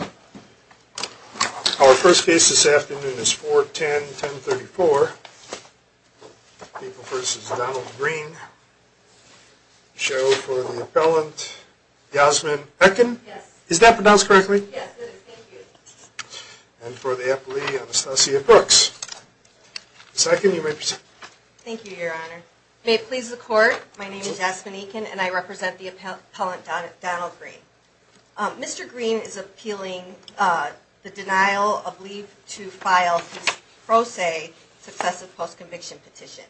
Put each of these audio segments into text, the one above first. Our first case this afternoon is 410-1034. People vs. Donald Green. The show for the appellant, Yasmin Ekin. Yes. Is that pronounced correctly? Yes, it is. Thank you. And for the appellee, Anastasia Brooks. Ms. Ekin, you may proceed. Thank you, Your Honor. May it please the Court, my name is Yasmin Ekin and I represent the appellant Donald Green. Mr. Green is appealing the denial of leave to file his pro se successive post-conviction petition.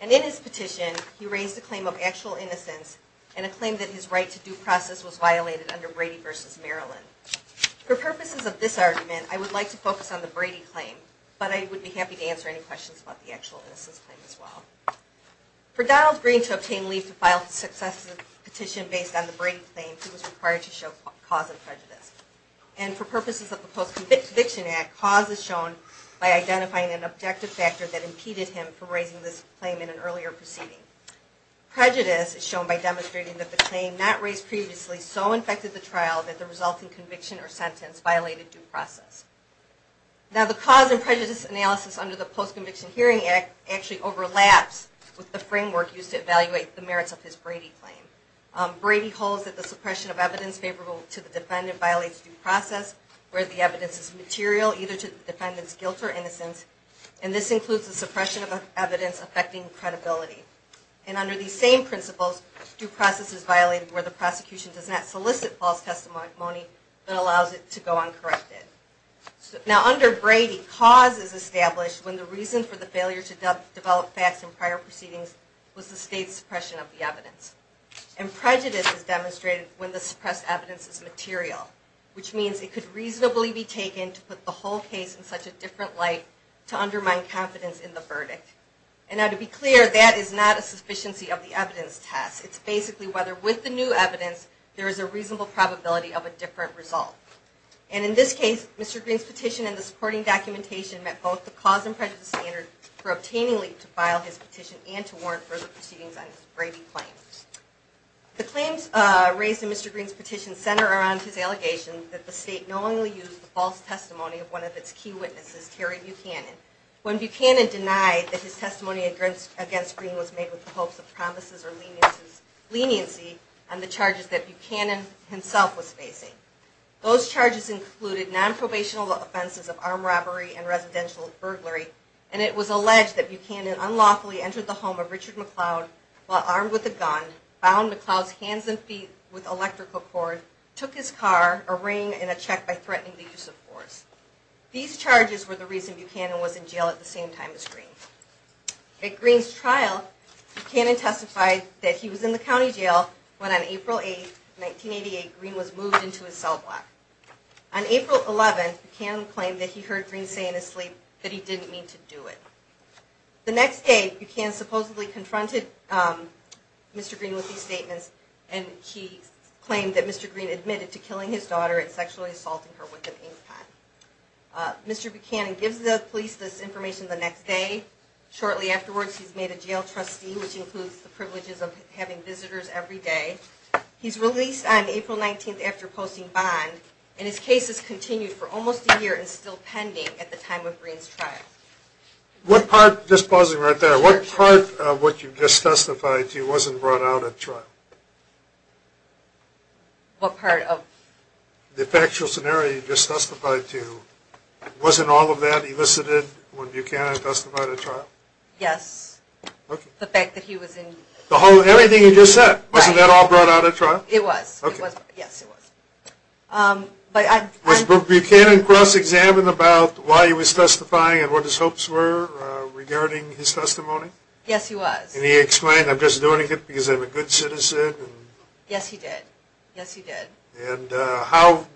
And in his petition, he raised a claim of actual innocence and a claim that his right to due process was violated under Brady v. Maryland. For purposes of this argument, I would like to focus on the Brady claim, but I would be happy to answer any questions about the actual innocence claim as well. For Donald Green to obtain leave to file his successive petition based on the Brady claim, he was required to show cause of prejudice. And for purposes of the Post-Conviction Act, cause is shown by identifying an objective factor that impeded him from raising this claim in an earlier proceeding. Prejudice is shown by demonstrating that the claim not raised previously so infected the trial that the resulting conviction or sentence violated due process. Now the cause and prejudice analysis under the Post-Conviction Hearing Act actually overlaps with the framework used to evaluate the merits of his Brady claim. Brady holds that the suppression of evidence favorable to the defendant violates due process where the evidence is material either to the defendant's guilt or innocence. And this includes the suppression of evidence affecting credibility. And under these same principles, due process is violated where the prosecution does not solicit false testimony but allows it to go uncorrected. Now under Brady, cause is established when the reason for the failure to develop facts in prior proceedings was the state's suppression of the evidence. And prejudice is demonstrated when the suppressed evidence is material, which means it could reasonably be taken to put the whole case in such a different light to undermine confidence in the verdict. And now to be clear, that is not a sufficiency of the evidence test. It's basically whether with the new evidence there is a reasonable probability of a different result. And in this case, Mr. Green's petition and the supporting documentation met both the cause and prejudice standard for obtainingly to file his petition and to warrant further proceedings on his Brady claims. The claims raised in Mr. Green's petition center around his allegation that the state knowingly used the false testimony of one of its key witnesses, Terry Buchanan. When Buchanan denied that his testimony against Green was made with the hopes of promises or leniency on the charges that Buchanan himself was facing. Those charges included non-probational offenses of armed robbery and residential burglary. And it was alleged that Buchanan unlawfully entered the home of Richard McLeod while armed with a gun, bound McLeod's hands and feet with electrical cord, took his car, a ring, and a check by threatening the use of force. These charges were the reason Buchanan was in jail at the same time as Green. At Green's trial, Buchanan testified that he was in the county jail when on April 8, 1988, Green was moved into his cell block. On April 11, Buchanan claimed that he heard Green say in his sleep that he didn't mean to do it. The next day, Buchanan supposedly confronted Mr. Green with these statements and he claimed that Mr. Green admitted to killing his daughter and sexually assaulting her with an ink pen. Mr. Buchanan gives the police this information the next day. Shortly afterwards, he's made a jail trustee, which includes the privileges of having visitors every day. He's released on April 19 after posting bond and his case has continued for almost a year and is still pending at the time of Green's trial. What part, just pausing right there, what part of what you just testified to wasn't brought out at trial? What part of? The factual scenario you just testified to, wasn't all of that elicited when Buchanan testified at trial? Yes. Okay. The fact that he was in. The whole, everything you just said. Right. Wasn't that all brought out at trial? It was. Okay. Yes, it was. Was Buchanan cross-examined about why he was testifying and what his hopes were regarding his testimony? Yes, he was. And he explained, I'm just doing it because I'm a good citizen. Yes, he did. Yes, he did. And how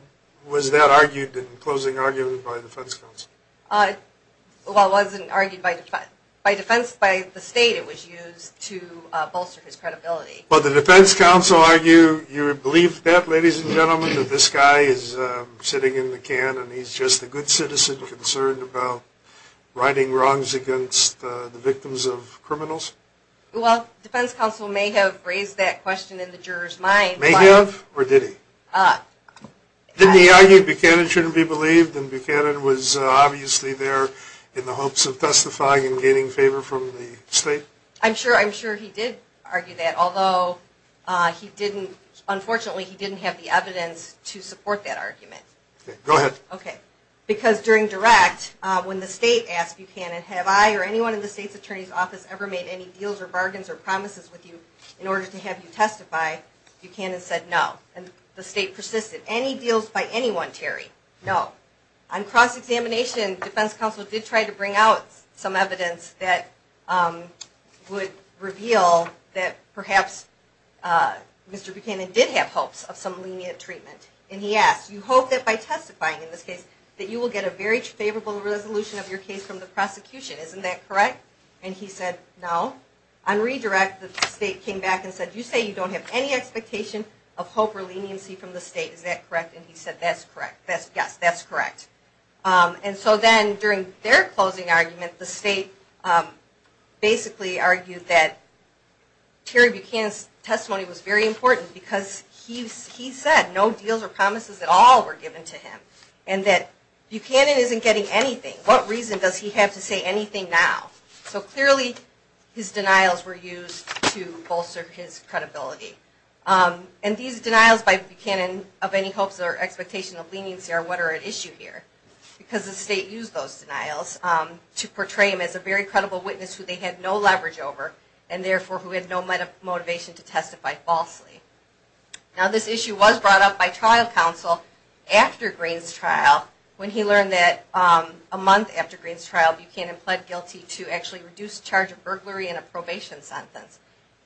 was that argued in closing argument by defense counsel? Well, it wasn't argued by defense, by the state it was used to bolster his credibility. Well, the defense counsel argued you would believe that, ladies and gentlemen, that this guy is sitting in the can and he's just a good citizen concerned about righting wrongs against the victims of criminals? Well, defense counsel may have raised that question in the juror's mind. May have, or did he? Didn't he argue Buchanan shouldn't be believed and Buchanan was obviously there in the hopes of testifying and gaining favor from the state? I'm sure he did argue that, although unfortunately he didn't have the evidence to support that argument. Okay, go ahead. Okay. Because during direct, when the state asked Buchanan, have I or anyone in the state's attorney's office ever made any deals or bargains or promises with you in order to have you testify, Buchanan said no. And the state persisted. Any deals by anyone, Terry, no. On cross-examination, defense counsel did try to bring out some evidence that would reveal that perhaps Mr. Buchanan did have hopes of some lenient treatment. And he asked, you hope that by testifying in this case that you will get a very favorable resolution of your case from the prosecution, isn't that correct? And he said no. On redirect, the state came back and said, you say you don't have any expectation of hope or leniency from the state, is that correct? And he said that's correct. And so then during their closing argument, the state basically argued that Terry Buchanan's testimony was very important because he said no deals or promises at all were given to him. And that Buchanan isn't getting anything. What reason does he have to say anything now? So clearly his denials were used to bolster his credibility. And these denials by Buchanan of any hopes or expectation of leniency are what are at issue here. Because the state used those denials to portray him as a very credible witness who they had no leverage over and therefore who had no motivation to testify falsely. Now this issue was brought up by trial counsel after Green's trial when he learned that a month after Green's trial, Buchanan pled guilty to actually reduced charge of burglary and a probation sentence.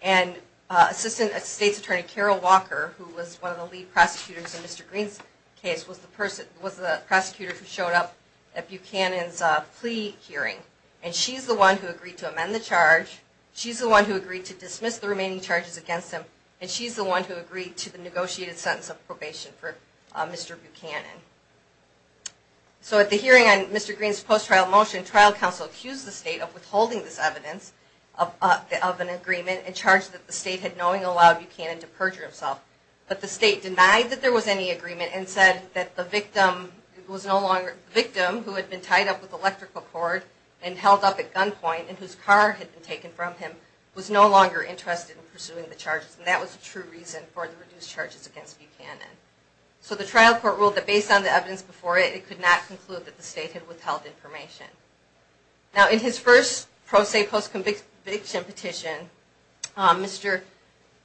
And Assistant State's Attorney Carol Walker, who was one of the lead prosecutors in Mr. Green's case, was the prosecutor who showed up at Buchanan's plea hearing. And she's the one who agreed to amend the charge. She's the one who agreed to dismiss the remaining charges against him. And she's the one who agreed to the negotiated sentence of probation for Mr. Buchanan. So at the hearing on Mr. Green's post-trial motion, trial counsel accused the state of withholding this evidence of an agreement and charged that the state had knowingly allowed Buchanan to perjure himself. But the state denied that there was any agreement and said that the victim was no longer, the victim who had been tied up with electrical cord and held up at gunpoint and whose car had been taken from him was no longer interested in pursuing the charges. And that was the true reason for the reduced charges against Buchanan. So the trial court ruled that based on the evidence before it, it could not conclude that the state had withheld information. Now in his first pro se post-conviction petition, Mr.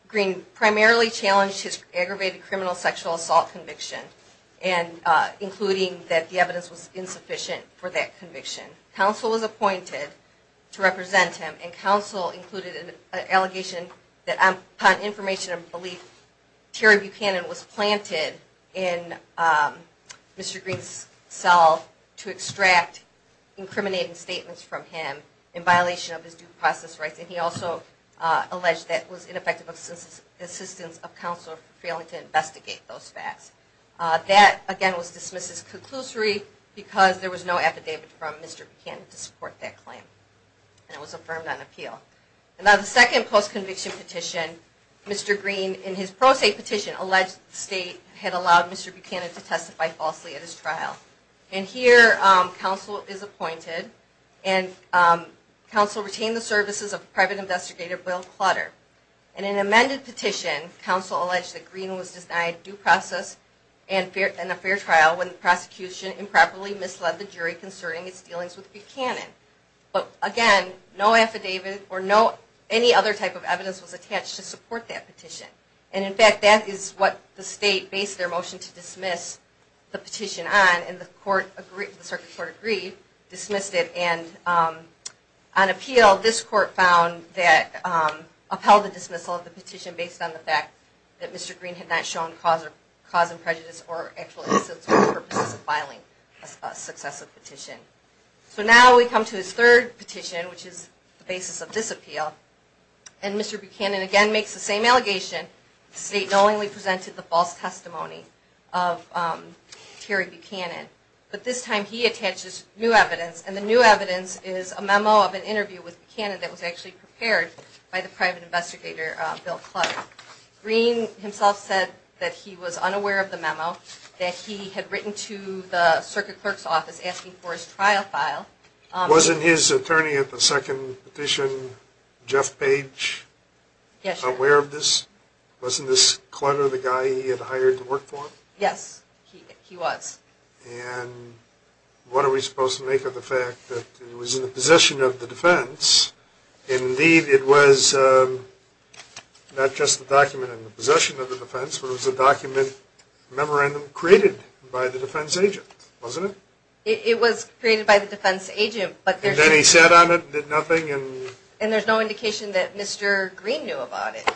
Green primarily challenged his aggravated criminal sexual assault conviction, including that the evidence was insufficient for that conviction. Counsel was appointed to represent him and counsel included an allegation that upon information and belief, Terry Buchanan was planted in Mr. Green's cell to extract incriminating statements from him in violation of his due process rights. And he also alleged that it was ineffective assistance of counsel failing to investigate those facts. That again was dismissed as conclusory because there was no affidavit from Mr. Buchanan to support that claim. And it was affirmed on appeal. Now the second post-conviction petition, Mr. Green in his pro se petition alleged the state had allowed Mr. Buchanan to testify falsely at his trial. And here counsel is appointed and counsel retained the services of private investigator Bill Clutter. In an amended petition, counsel alleged that Green was denied due process and a fair trial when the prosecution improperly misled the jury concerning its dealings with Buchanan. But again, no affidavit or any other type of evidence was attached to support that petition. And in fact, that is what the state based their motion to dismiss the petition on and the circuit court agreed, dismissed it. And on appeal, this court found that upheld the dismissal of the petition based on the fact that Mr. Green had not shown cause of prejudice or purposes of filing a successive petition. So now we come to his third petition, which is the basis of this appeal. And Mr. Buchanan again makes the same allegation, the state knowingly presented the false testimony of Terry Buchanan. But this time he attaches new evidence and the new evidence is a memo of an interview with Buchanan that was actually prepared by the private investigator Bill Clutter. Green himself said that he was unaware of the memo that he had written to the circuit clerk's office asking for his trial file. Wasn't his attorney at the second petition, Jeff Page, aware of this? Wasn't this Clutter the guy he had hired to work for him? Yes, he was. And what are we supposed to make of the fact that it was in the possession of the defense? Indeed, it was not just the document in the possession of the defense, but it was a document, a memorandum, created by the defense agent, wasn't it? It was created by the defense agent, but there's... And then he sat on it and did nothing and... And there's no indication that Mr. Green knew about it.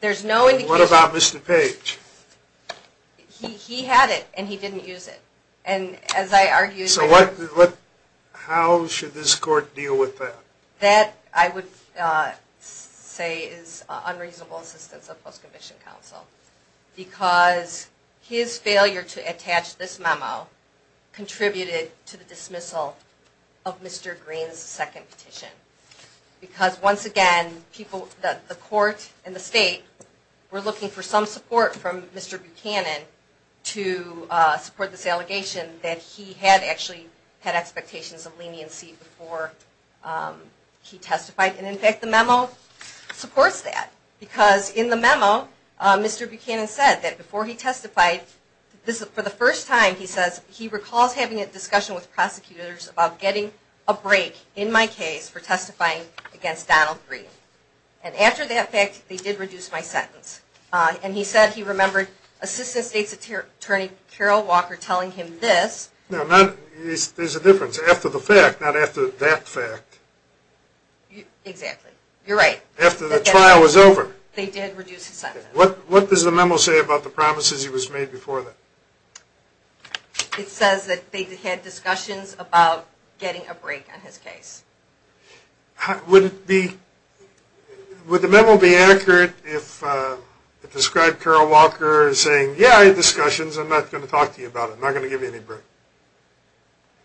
There's no indication... What about Mr. Page? He had it and he didn't use it. So how should this court deal with that? That, I would say, is unreasonable assistance of post-commissioned counsel because his failure to attach this memo contributed to the dismissal of Mr. Green's second petition. Because, once again, the court and the state were looking for some support from Mr. Buchanan to support this allegation that he had actually had expectations of leniency before he testified. And, in fact, the memo supports that. Because, in the memo, Mr. Buchanan said that before he testified, for the first time, he recalls having a discussion with prosecutors about getting a break in my case for testifying against Donald Green. And, after that fact, they did reduce my sentence. And he said he remembered Assistant State's Attorney, Carol Walker, telling him this... There's a difference. After the fact, not after that fact. Exactly. You're right. After the trial was over. They did reduce his sentence. What does the memo say about the promises he was made before that? It says that they had discussions about getting a break on his case. Would the memo be accurate if it described Carol Walker saying, yeah, I had discussions, I'm not going to talk to you about it, I'm not going to give you any break?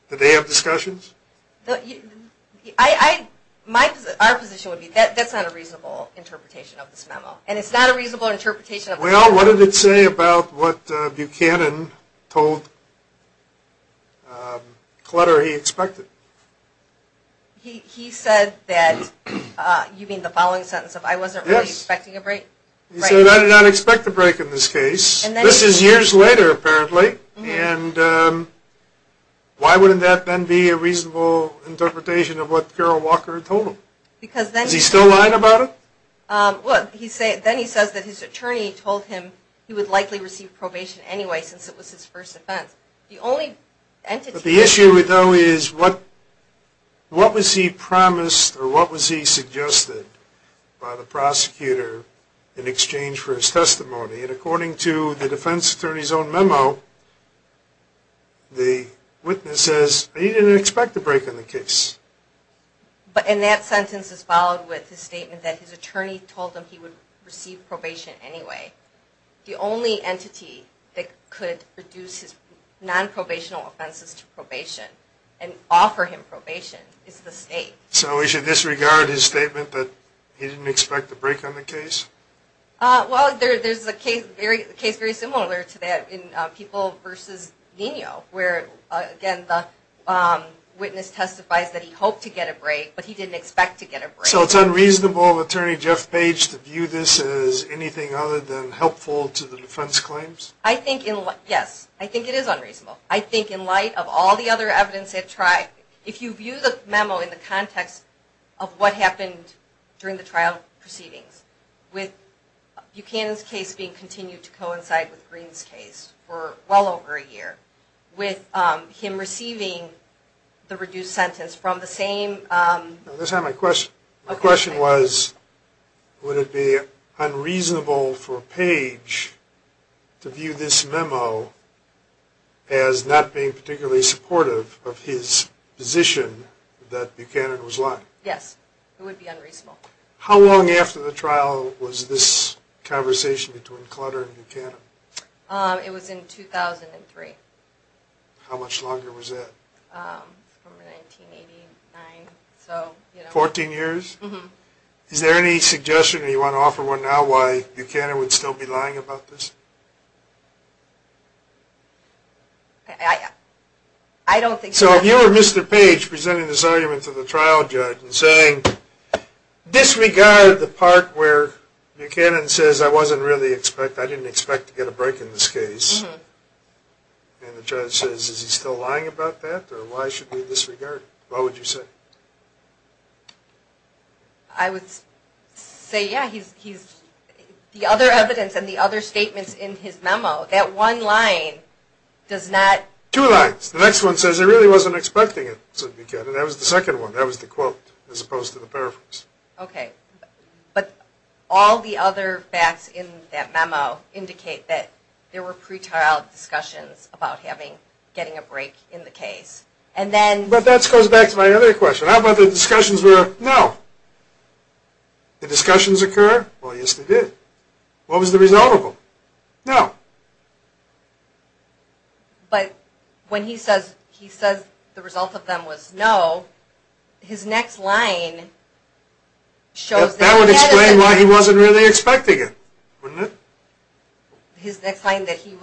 Did they have discussions? Our position would be that that's not a reasonable interpretation of this memo. And it's not a reasonable interpretation of the memo. Well, what did it say about what Buchanan told Clutter he expected? He said that, you mean the following sentence of, I wasn't really expecting a break? He said, I did not expect a break in this case. This is years later, apparently, and why wouldn't that then be a reasonable interpretation of what Carol Walker told him? Because then... Is he still lying about it? Well, then he says that his attorney told him he would likely receive probation anyway since it was his first offense. The only entity... But the issue, though, is what was he promised or what was he suggested by the prosecutor in exchange for his testimony? And according to the defense attorney's own memo, the witness says he didn't expect a break in the case. And that sentence is followed with his statement that his attorney told him he would receive probation anyway. The only entity that could reduce his non-probational offenses to probation and offer him probation is the state. So we should disregard his statement that he didn't expect a break on the case? Well, there's a case very similar to that in People v. Nino where, again, the witness testifies that he hoped to get a break, but he didn't expect to get a break. So it's unreasonable of attorney Jeff Page to view this as anything other than helpful to the defense claims? Yes, I think it is unreasonable. I think in light of all the other evidence they've tried, if you view the memo in the context of what happened during the trial proceedings, with Buchanan's case being continued to coincide with Green's case for well over a year, with him receiving the reduced sentence from the same... My question was, would it be unreasonable for Page to view this memo as not being particularly supportive of his position that Buchanan was lying? Yes, it would be unreasonable. How long after the trial was this conversation between Clutter and Buchanan? It was in 2003. How much longer was that? From 1989. Fourteen years? Is there any suggestion, or do you want to offer one now, why Buchanan would still be lying about this? I don't think so. So if you were Mr. Page presenting this argument to the trial judge and saying, disregard the part where Buchanan says, I didn't expect to get a break in this case, and the judge says, is he still lying about that? Or why should we disregard it? What would you say? I would say, yeah, the other evidence and the other statements in his memo, that one line does not... Two lines. The next one says, I really wasn't expecting it, said Buchanan. That was the second one. That was the quote, as opposed to the paraphrase. But all the other facts in that memo indicate that there were pre-trial discussions about getting a break in the case. But that goes back to my other question. How about the discussions were, no. Did discussions occur? Well, yes, they did. What was the result of them? No. But when he says the result of them was no, his next line shows that... That would explain why he wasn't really expecting it, wouldn't it? His next line, that he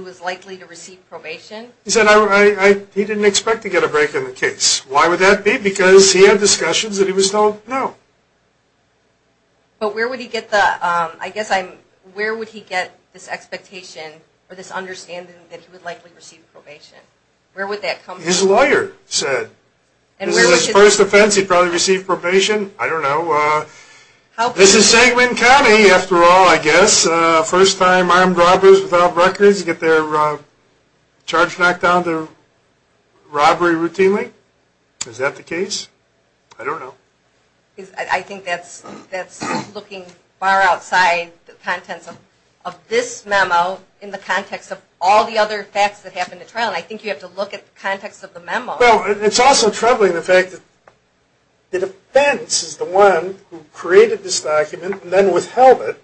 was likely to receive probation? He said he didn't expect to get a break in the case. Why would that be? Because he had discussions that he was told no. But where would he get the... I guess I'm... Where would he get this expectation or this understanding that he would likely receive probation? Where would that come from? His lawyer said. This is his first offense. He'd probably receive probation. I don't know. This is Seguin County, after all, I guess. First time armed robbers without records get their charge knocked down to robbery routinely. Is that the case? I don't know. I think that's looking far outside the contents of this memo in the context of all the other facts that happened at trial. I think you have to look at the context of the memo. It's also troubling the fact that the defense is the one who created this document and then withheld it.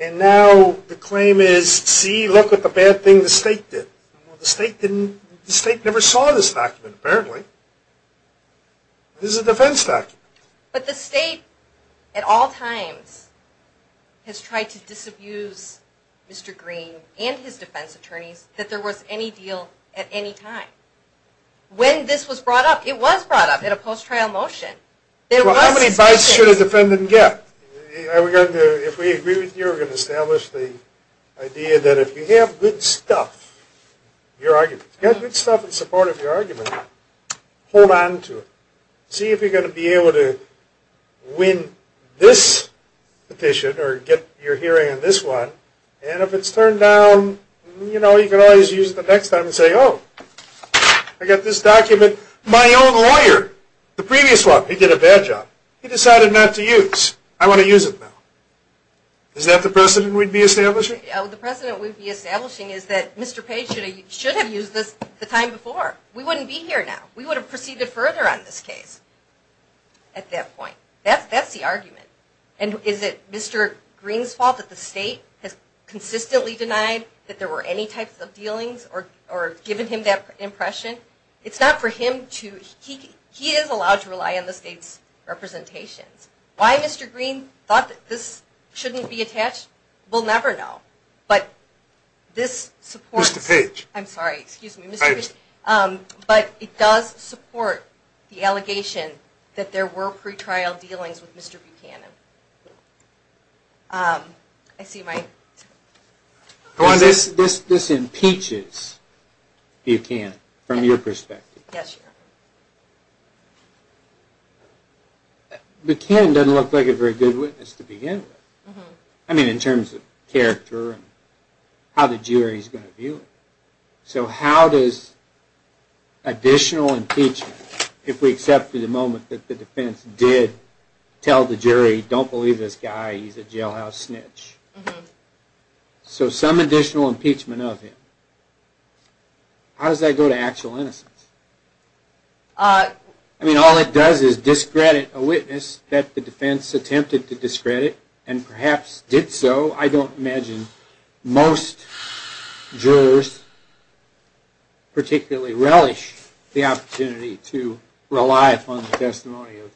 And now the claim is, see, look at the bad thing the state did. The state never saw this document, apparently. This is a defense document. But the state at all times has tried to disabuse Mr. Green and his defense attorneys that there was any deal at any time. When this was brought up, it was brought up in a post-trial motion. How many bites should a defendant get? If we agree with you, we're going to establish the idea that if you have good stuff, good stuff in support of your argument, hold on to it. See if you're going to be able to win this petition or get your hearing on this one. And if it's turned down, you can always use it the next time and say, oh, I got this document. My own lawyer, the previous one, he did a bad job. He decided not to use. I want to use it now. Is that the precedent we'd be establishing? The precedent we'd be establishing is that Mr. Page should have used this the time before. We wouldn't be here now. We would have proceeded further on this case at that point. That's the argument. And is it Mr. Green's fault that the state has consistently denied that there were any types of dealings or given him that impression? It's not for him to – he is allowed to rely on the state's representations. Why Mr. Green thought that this shouldn't be attached, we'll never know. But this supports – Mr. Page. I'm sorry, excuse me. Mr. Page. But it does support the allegation that there were pretrial dealings with Mr. Buchanan. I see my – This impeaches Buchanan from your perspective. Yes, Your Honor. Buchanan doesn't look like a very good witness to begin with. I mean, in terms of character and how the jury is going to view him. So how does additional impeachment, if we accept for the moment that the defense did tell the jury, don't believe this guy, he's a jailhouse snitch. So some additional impeachment of him. How does that go to actual innocence? I mean, all it does is discredit a witness that the defense attempted to discredit and perhaps did so. I don't imagine most jurors particularly relish the opportunity to rely upon the testimony of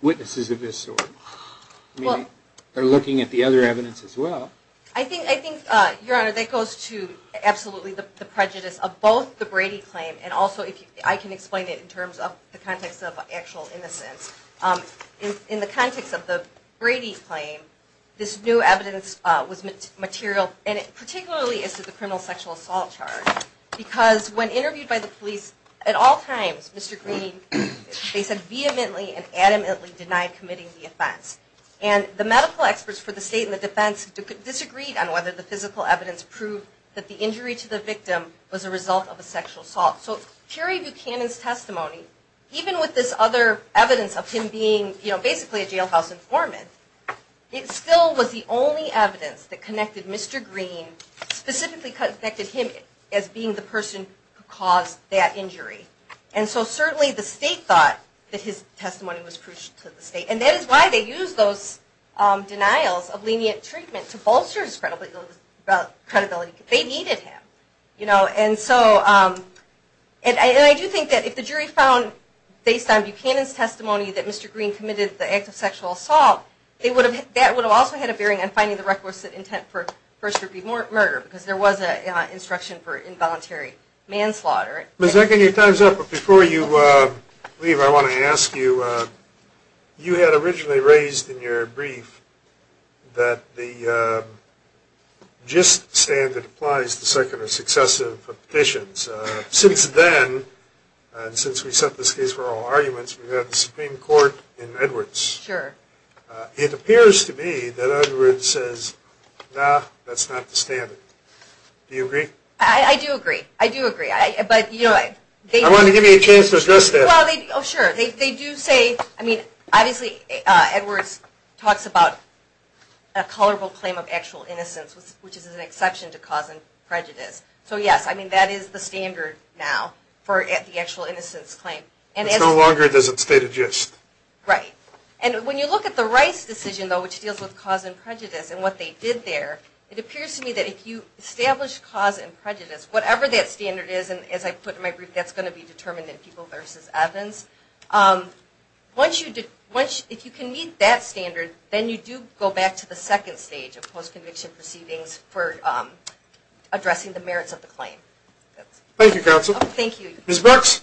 witnesses of this sort. They're looking at the other evidence as well. I think, Your Honor, that goes to absolutely the prejudice of both the Brady claim and also if I can explain it in terms of the context of actual innocence. In the context of the Brady claim, this new evidence was material, and particularly as to the criminal sexual assault charge. Because when interviewed by the police, at all times, Mr. Green, they said vehemently and adamantly denied committing the offense. And the medical experts for the state and the defense disagreed on whether the physical evidence proved that the injury to the victim was a result of a sexual assault. So purer Buchanan's testimony, even with this other evidence of him being basically a jailhouse informant, it still was the only evidence that connected Mr. Green, And so certainly the state thought that his testimony was crucial to the state. And that is why they used those denials of lenient treatment to bolster his credibility. They needed him. And I do think that if the jury found, based on Buchanan's testimony, that Mr. Green committed the act of sexual assault, that would have also had a bearing on finding the requisite intent for first-degree murder, because there was an instruction for involuntary manslaughter. Ms. Ekin, your time's up. But before you leave, I want to ask you, you had originally raised in your brief that the gist standard applies to secular successive petitions. Since then, and since we set this case for all arguments, we've had the Supreme Court in Edwards. Sure. It appears to be that Edwards says, nah, that's not the standard. Do you agree? I do agree. I do agree. I wanted to give you a chance to address that. Oh, sure. They do say, I mean, obviously Edwards talks about a colorful claim of actual innocence, which is an exception to cause and prejudice. So, yes, I mean, that is the standard now for the actual innocence claim. It no longer does it state a gist. Right. And when you look at the Rice decision, though, which deals with cause and prejudice whatever that standard is, and as I put in my brief, that's going to be determined in People v. Evans, if you can meet that standard, then you do go back to the second stage of post-conviction proceedings for addressing the merits of the claim. Thank you, Counsel. Thank you. Ms. Brooks.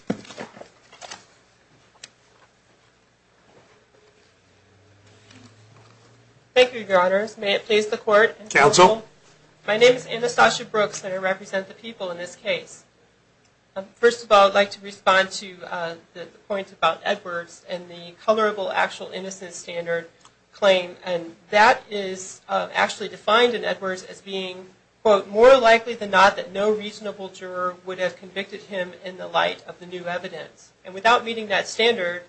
Thank you, Your Honors. May it please the Court. Counsel. My name is Anastasia Brooks, and I represent the People in this case. First of all, I'd like to respond to the point about Edwards and the colorable actual innocence standard claim. And that is actually defined in Edwards as being, quote, more likely than not that no reasonable juror would have convicted him in the light of the new evidence. And without meeting that standard,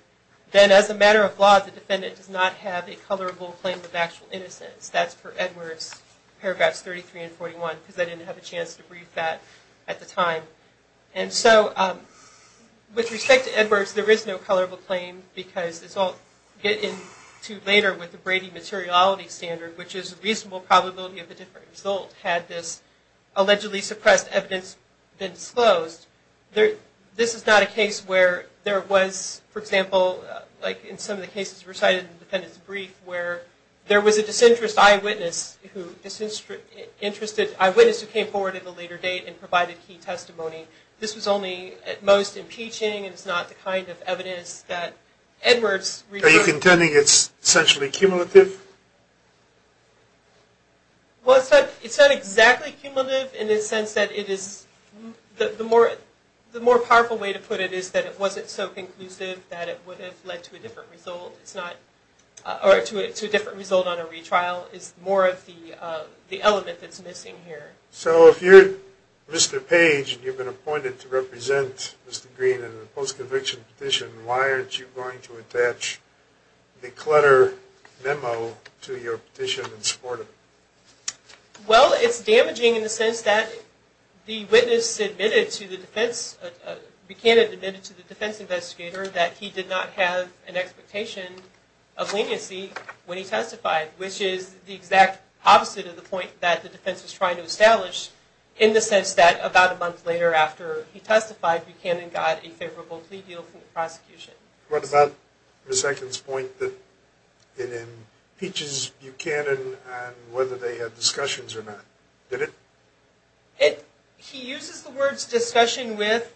then as a matter of law, the defendant does not have a colorable claim of actual innocence. That's for Edwards, paragraphs 33 and 41, because I didn't have a chance to brief that at the time. And so with respect to Edwards, there is no colorable claim, because it's all getting to later with the Brady materiality standard, which is a reasonable probability of a different result had this allegedly suppressed evidence been disclosed. This is not a case where there was, for example, like in some of the cases recited in the defendant's brief, where there was a disinterested eyewitness who came forward at a later date and provided key testimony. This was only at most impeaching, and it's not the kind of evidence that Edwards. Are you contending it's essentially cumulative? Well, it's not exactly cumulative in the sense that it is, the more powerful way to put it is that it wasn't so conclusive that it would have led to a different result. Or to a different result on a retrial is more of the element that's missing here. So if you're Mr. Page, and you've been appointed to represent Mr. Green in a post-conviction petition, why aren't you going to attach the clutter memo to your petition in support of it? Well, it's damaging in the sense that the witness admitted to the defense, Buchanan admitted to the defense investigator that he did not have an expectation of leniency when he testified, which is the exact opposite of the point that the defense was trying to establish, in the sense that about a month later after he testified, Buchanan got a favorable plea deal from the prosecution. What about Ms. Ekin's point that it impeaches Buchanan on whether they had discussions or not? He uses the words discussion with,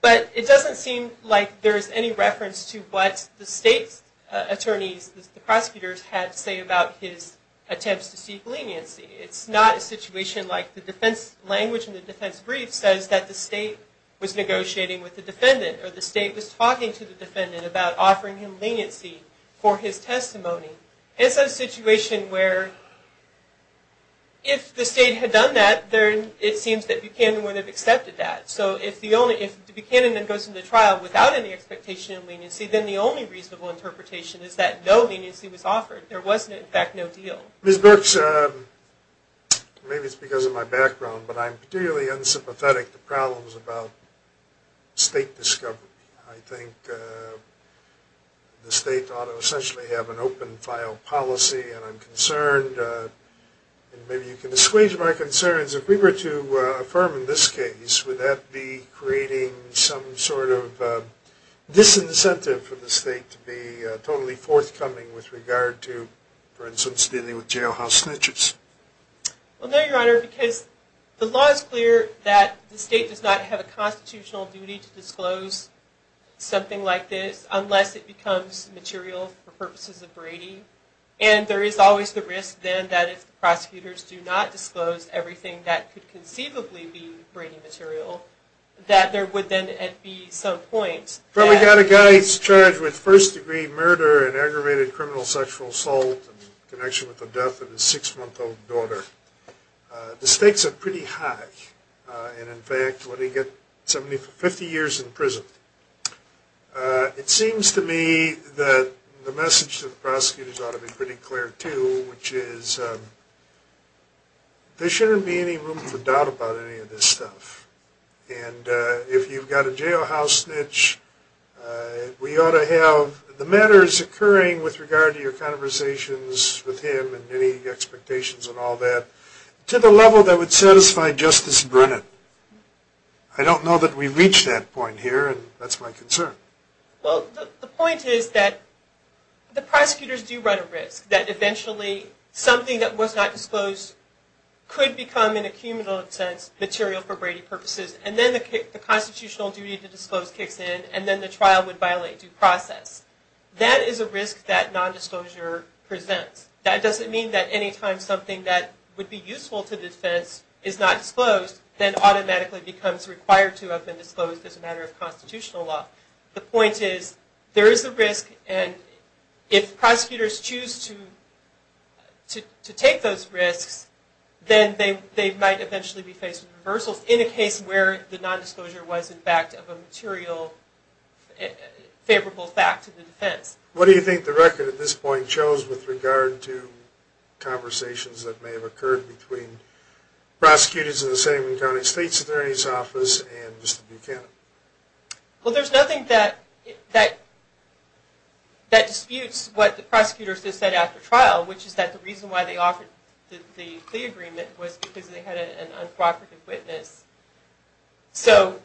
but it doesn't seem like there's any reference to what the state's attorneys, the prosecutors had to say about his attempts to seek leniency. It's not a situation like the defense language in the defense brief says that the state was negotiating with the defendant, or the state was talking to the defendant about offering him leniency for his testimony. It's a situation where if the state had done that, it seems that Buchanan would have accepted that. So if Buchanan then goes into trial without any expectation of leniency, then the only reasonable interpretation is that no leniency was offered. There was in fact no deal. Ms. Birx, maybe it's because of my background, but I'm particularly unsympathetic to problems about state discovery. I think the state ought to essentially have an open file policy, and I'm concerned, and maybe you can disclose my concerns, if we were to affirm in this case, would that be creating some sort of disincentive for the state to be totally forthcoming with regard to, for instance, dealing with jailhouse snitches? Well, no, Your Honor, because the law is clear that the state does not have a constitutional duty to disclose something like this unless it becomes material for purposes of Brady, and there is always the risk then that if the prosecutors do not disclose everything that could conceivably be Brady material, that there would then be at some point... Probably got a guy who's charged with first degree murder and aggravated criminal sexual assault in connection with the death of his six-month-old daughter. The stakes are pretty high, and in fact, let me get somebody for 50 years in prison. It seems to me that the message to the prosecutors ought to be pretty clear too, which is there shouldn't be any room for doubt about any of this stuff, and if you've got a jailhouse snitch, we ought to have the matters occurring with regard to your conversations with him and any expectations and all that to the level that would satisfy Justice Brennan. I don't know that we've reached that point here, and that's my concern. Well, the point is that the prosecutors do run a risk that eventually something that was not disclosed could become, in a cumulative sense, material for Brady purposes, and then the constitutional duty to disclose kicks in, and then the trial would violate due process. That is a risk that nondisclosure presents. That doesn't mean that any time something that would be useful to the defense is not disclosed, then automatically becomes required to have been disclosed as a matter of constitutional law. The point is, there is a risk, and if prosecutors choose to take those risks, then they might eventually be faced with reversals in a case where the nondisclosure was, in fact, of a material favorable fact to the defense. What do you think the record at this point shows with regard to conversations that may have occurred between prosecutors in the Sandman County State's Attorney's Office and Mr. Buchanan? Well, there's nothing that disputes what the prosecutors have said after trial, which is that the reason why they offered the plea agreement was because they had an unprovocative witness. So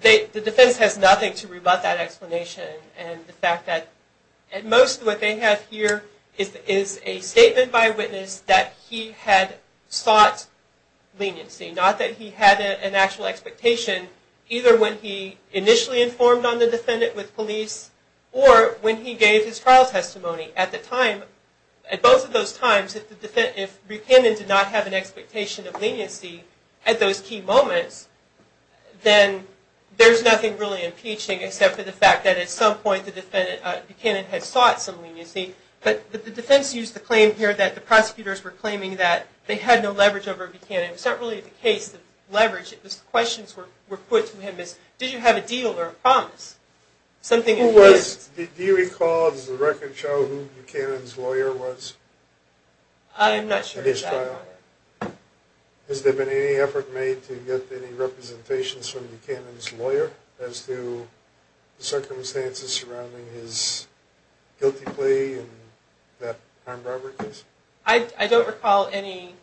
the defense has nothing to rebut that explanation, and the fact that at most what they have here is a statement by a witness that he had sought leniency, not that he had an actual expectation, either when he initially informed on the defendant with police or when he gave his trial testimony. At both of those times, if Buchanan did not have an expectation of leniency at those key moments, then there's nothing really impeaching except for the fact that at some point Buchanan had sought some leniency. But the defense used the claim here that the prosecutors were claiming that they had no leverage over Buchanan. It's not really the case of leverage. The questions were put to him is, did you have a deal or a promise? Do you recall, does the record show, who Buchanan's lawyer was at his trial? I'm not sure. Has there been any effort made to get any representations from Buchanan's lawyer as to the circumstances surrounding his guilty plea and that armed robbery case? I don't recall any.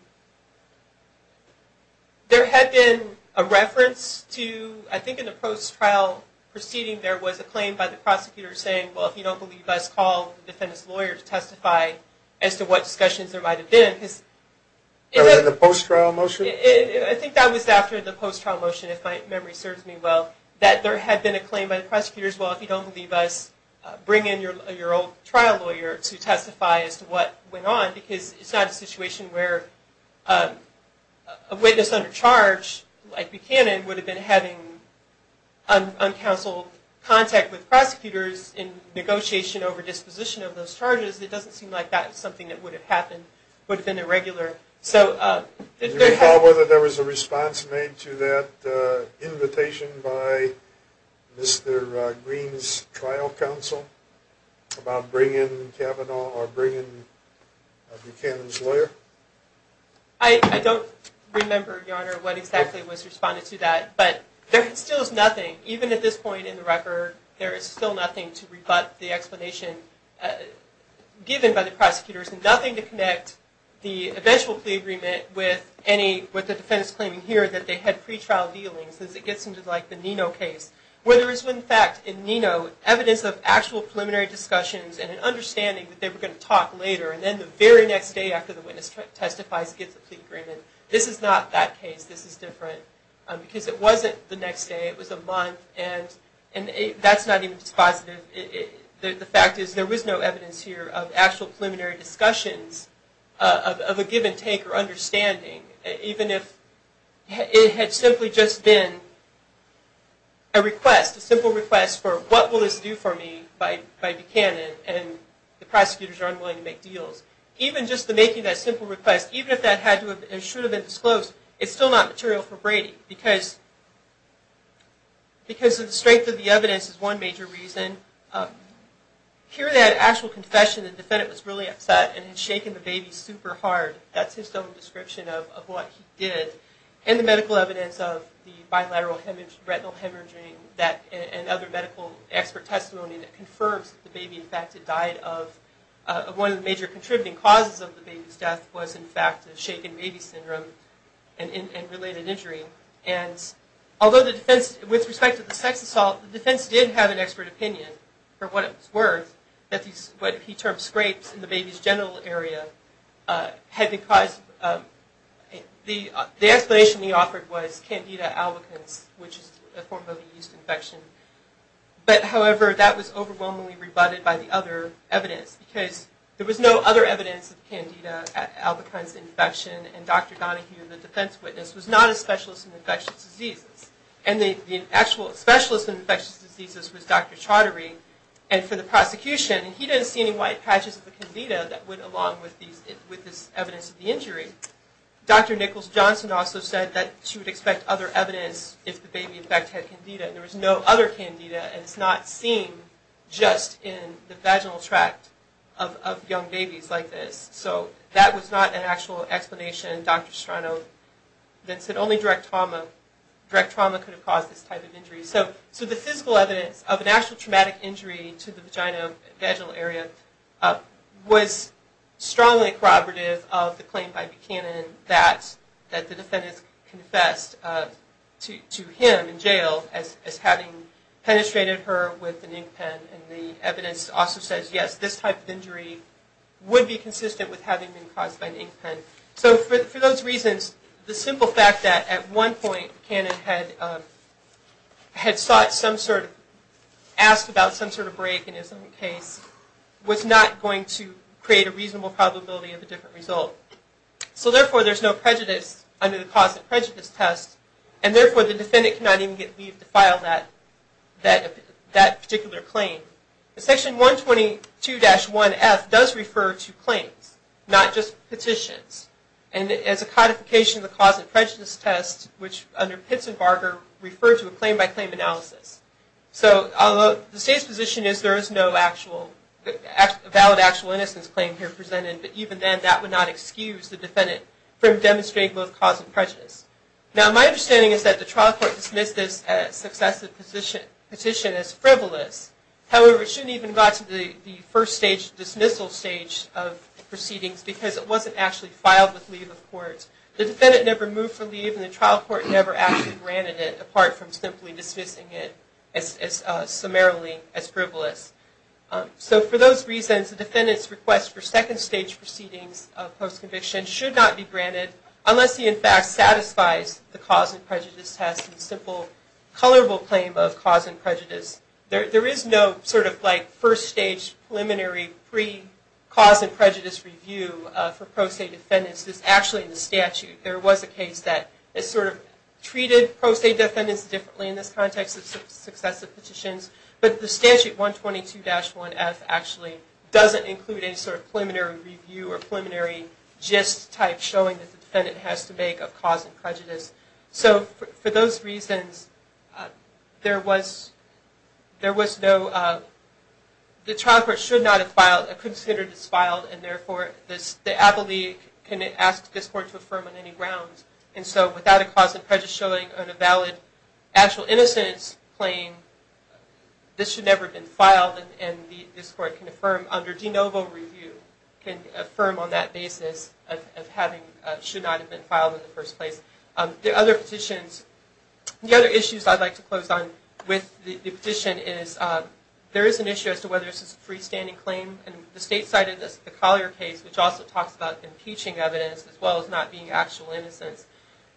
There had been a reference to, I think in the post-trial proceeding, there was a claim by the prosecutor saying, well, if you don't believe us, call the defendant's lawyer to testify as to what discussions there might have been. The post-trial motion? I think that was after the post-trial motion, if my memory serves me well, that there had been a claim by the prosecutors, well, if you don't believe us, bring in your old trial lawyer to testify as to what went on, because it's not a situation where a witness under charge like Buchanan would have been having uncounseled contact with prosecutors in negotiation over disposition of those charges. It doesn't seem like that's something that would have happened, would have been irregular. Do you recall whether there was a response made to that invitation by Mr. Green's trial counsel about bringing Kavanaugh or bringing Buchanan's lawyer? I don't remember, Your Honor, what exactly was responded to that, but there still is nothing, even at this point in the record, there is still nothing to rebut the explanation given by the prosecutors, nothing to connect the eventual plea agreement with the defense claiming here that they had pretrial dealings, as it gets into the Nino case, where there is, in fact, in Nino, evidence of actual preliminary discussions and an understanding that they were going to talk later, and then the very next day after the witness testifies he gets a plea agreement. This is not that case, this is different, because it wasn't the next day, it was a month, and that's not even dispositive. The fact is there was no evidence here of actual preliminary discussions, of a given take or understanding, even if it had simply just been a request, a simple request for what will this do for me by Buchanan, and the prosecutors are unwilling to make deals. Even just the making of that simple request, even if that should have been disclosed, it's still not material for Brady, because of the strength of the evidence is one major reason. Here that actual confession, the defendant was really upset, and had shaken the baby super hard, that's his own description of what he did, and the medical evidence of the bilateral retinal hemorrhaging, and other medical expert testimony that confirms the baby, in fact it died of, one of the major contributing causes of the baby's death was in fact the shaken baby syndrome and related injury. And although the defense, with respect to the sex assault, the defense did have an expert opinion for what it was worth, that what he termed scrapes in the baby's genital area had been caused, the explanation he offered was Candida albicans, which is a form of yeast infection. But however, that was overwhelmingly rebutted by the other evidence, because there was no other evidence of Candida albicans infection, and Dr. Donahue, the defense witness, was not a specialist in infectious diseases. And the actual specialist in infectious diseases was Dr. Chaudhary, and for the prosecution, he didn't see any white patches of Candida that went along with this evidence of the injury. Dr. Nichols-Johnson also said that she would expect other evidence if the baby in fact had Candida, and there was no other Candida, and it's not seen just in the vaginal tract of young babies like this. So that was not an actual explanation. Dr. Strano then said only direct trauma could have caused this type of injury. So the physical evidence of an actual traumatic injury to the vaginal area was strongly corroborative of the claim by Buchanan that the defendants confessed to him in jail as having penetrated her with an ink pen, and the evidence also says, yes, this type of injury would be consistent with having been caused by an ink pen. So for those reasons, the simple fact that at one point, Buchanan had sought some sort of, asked about some sort of break in his own case, was not going to create a reasonable probability of a different result. So therefore, there's no prejudice under the cause of prejudice test, and therefore, the defendant cannot even get leave to file that particular claim. Section 122-1F does refer to claims, not just petitions, and it's a codification of the cause of prejudice test, which under Pitts and Barger referred to a claim by claim analysis. So the state's position is there is no valid actual innocence claim here presented, but even then, that would not excuse the defendant from demonstrating both cause and prejudice. Now, my understanding is that the trial court dismissed this successive petition as frivolous. However, it shouldn't even have gotten to the first stage, dismissal stage of proceedings, because it wasn't actually filed with leave of court. The defendant never moved for leave, and the trial court never actually granted it, apart from simply dismissing it summarily as frivolous. So for those reasons, the defendant's request for second stage proceedings of post-conviction should not be granted, unless he, in fact, satisfies the cause and prejudice test and simple, colorable claim of cause and prejudice. There is no first stage preliminary pre-cause and prejudice review for pro se defendants. This is actually in the statute. There was a case that treated pro se defendants differently in this context of successive petitions, but the statute 122-1F actually doesn't include any sort of preliminary review or preliminary gist-type showing that the defendant has to make of cause and prejudice. So for those reasons, there was no... The trial court should not have considered this filed, and therefore the appellee can ask this court to affirm on any grounds. And so without a cause and prejudice showing on a valid actual innocence claim, this should never have been filed, and this court can affirm under de novo review, can affirm on that basis of having... Should not have been filed in the first place. The other petitions... The other issues I'd like to close on with the petition is there is an issue as to whether this is a freestanding claim. The state cited the Collier case, which also talks about impeaching evidence as well as not being actual innocence.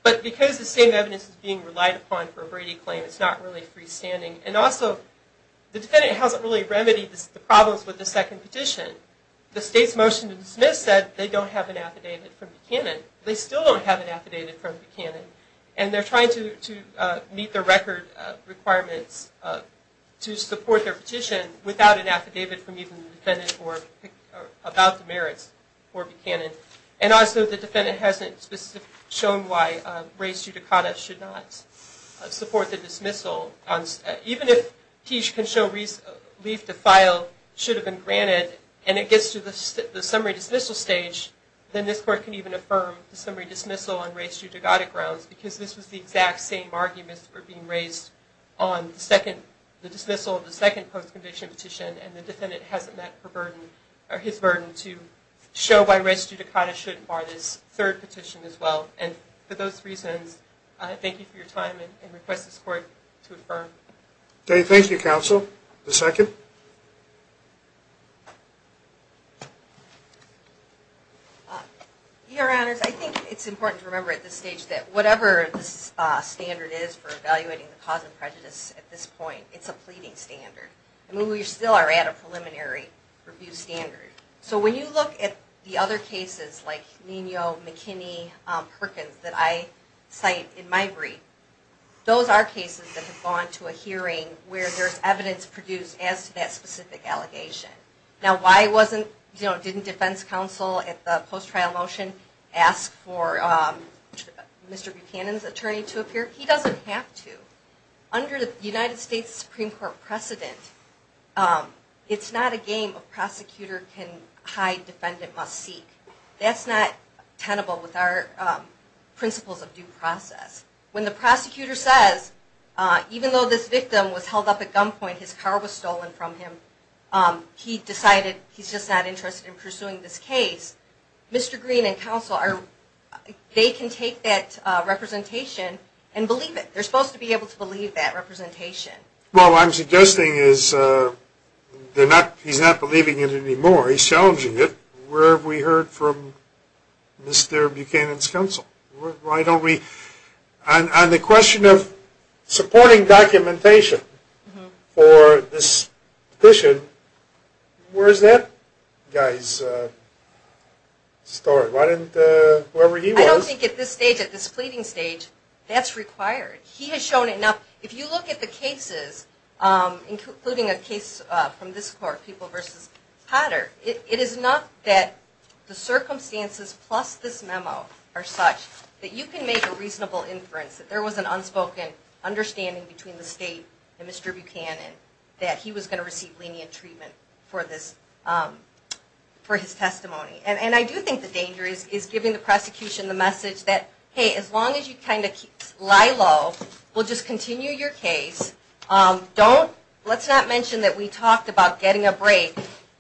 But because the same evidence is being relied upon for a Brady claim, it's not really freestanding. And also, the defendant hasn't really remedied the problems with the second petition. The state's motion to dismiss said they don't have an affidavit from Buchanan. They still don't have an affidavit from Buchanan. And they're trying to meet the record requirements to support their petition without an affidavit from even the defendant about the merits for Buchanan. And also, the defendant hasn't shown why res judicata should not support the dismissal. Even if he can leave the file, should have been granted, and it gets to the summary dismissal stage, then this court can even affirm the summary dismissal on res judicata grounds because this was the exact same argument for being raised on the dismissal of the second post-conviction petition, and the defendant hasn't met his burden to show why res judicata shouldn't bar this third petition as well. And for those reasons, I thank you for your time and request this court to affirm. Thank you, counsel. The second? Your Honors, I think it's important to remember at this stage that whatever the standard is for evaluating the cause of prejudice at this point, it's a pleading standard. I mean, we still are at a preliminary review standard. So when you look at the other cases, like Nemo, McKinney, Perkins, that I cite in my brief, those are cases that have gone to a hearing where there's evidence produced as to that specific allegation. Now, why didn't defense counsel at the post-trial motion ask for Mr. Buchanan's attorney to appear? He doesn't have to. Under the United States Supreme Court precedent, it's not a game a prosecutor can hide, defendant must seek. That's not tenable with our principles of due process. When the prosecutor says, even though this victim was held up at gunpoint, his car was stolen from him, he decided he's just not interested in pursuing this case, Mr. Green and counsel, they can take that representation and believe it. They're supposed to be able to believe that representation. Well, what I'm suggesting is they're not, he's not believing it anymore. He's challenging it. Where have we heard from Mr. Buchanan's counsel? Why don't we, on the question of supporting documentation for this petition, where is that guy's story? Why didn't whoever he was. I don't think at this stage, at this pleading stage, that's required. He has shown enough, if you look at the cases, including a case from this court, People v. Potter, it is enough that the circumstances plus this memo are such that you can make a reasonable inference that there was an unspoken understanding between the state and Mr. Buchanan that he was going to receive lenient treatment for his testimony. And I do think the danger is giving the prosecution the message that, hey, as long as you kind of lie low, we'll just continue your case. Don't, let's not mention that we talked about getting a break.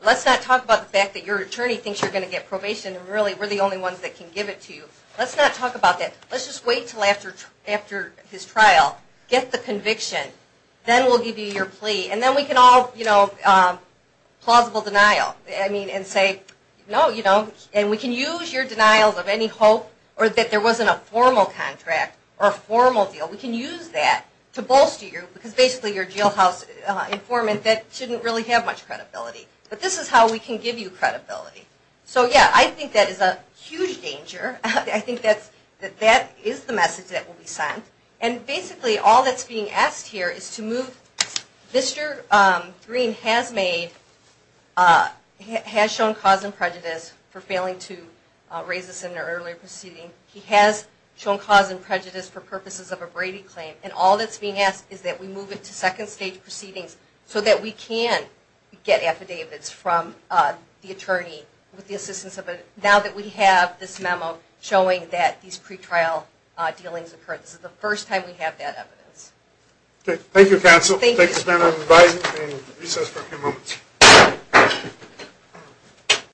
Let's not talk about the fact that your attorney thinks you're going to get probation and really we're the only ones that can give it to you. Let's not talk about that. Let's just wait until after his trial. Get the conviction. Then we'll give you your plea. And then we can all, you know, plausible denial. And say, no, you don't. And we can use your denials of any hope or that there wasn't a formal contract or a formal deal. We can use that to bolster you because basically you're a jailhouse informant that shouldn't really have much credibility. But this is how we can give you credibility. So, yeah, I think that is a huge danger. I think that that is the message that will be sent. And basically all that's being asked here is to move Mr. Green has made, has shown cause and prejudice for failing to raise this in an earlier proceeding. He has shown cause and prejudice for purposes of a Brady claim. And all that's being asked is that we move it to second stage proceedings so that we can get affidavits from the attorney with the assistance of it now that we have this memo showing that these pretrial dealings occurred. This is the first time we have that evidence. Okay. Thank you, counsel. Thank you. Thank you. We'll stand on the basis of recess for a few moments.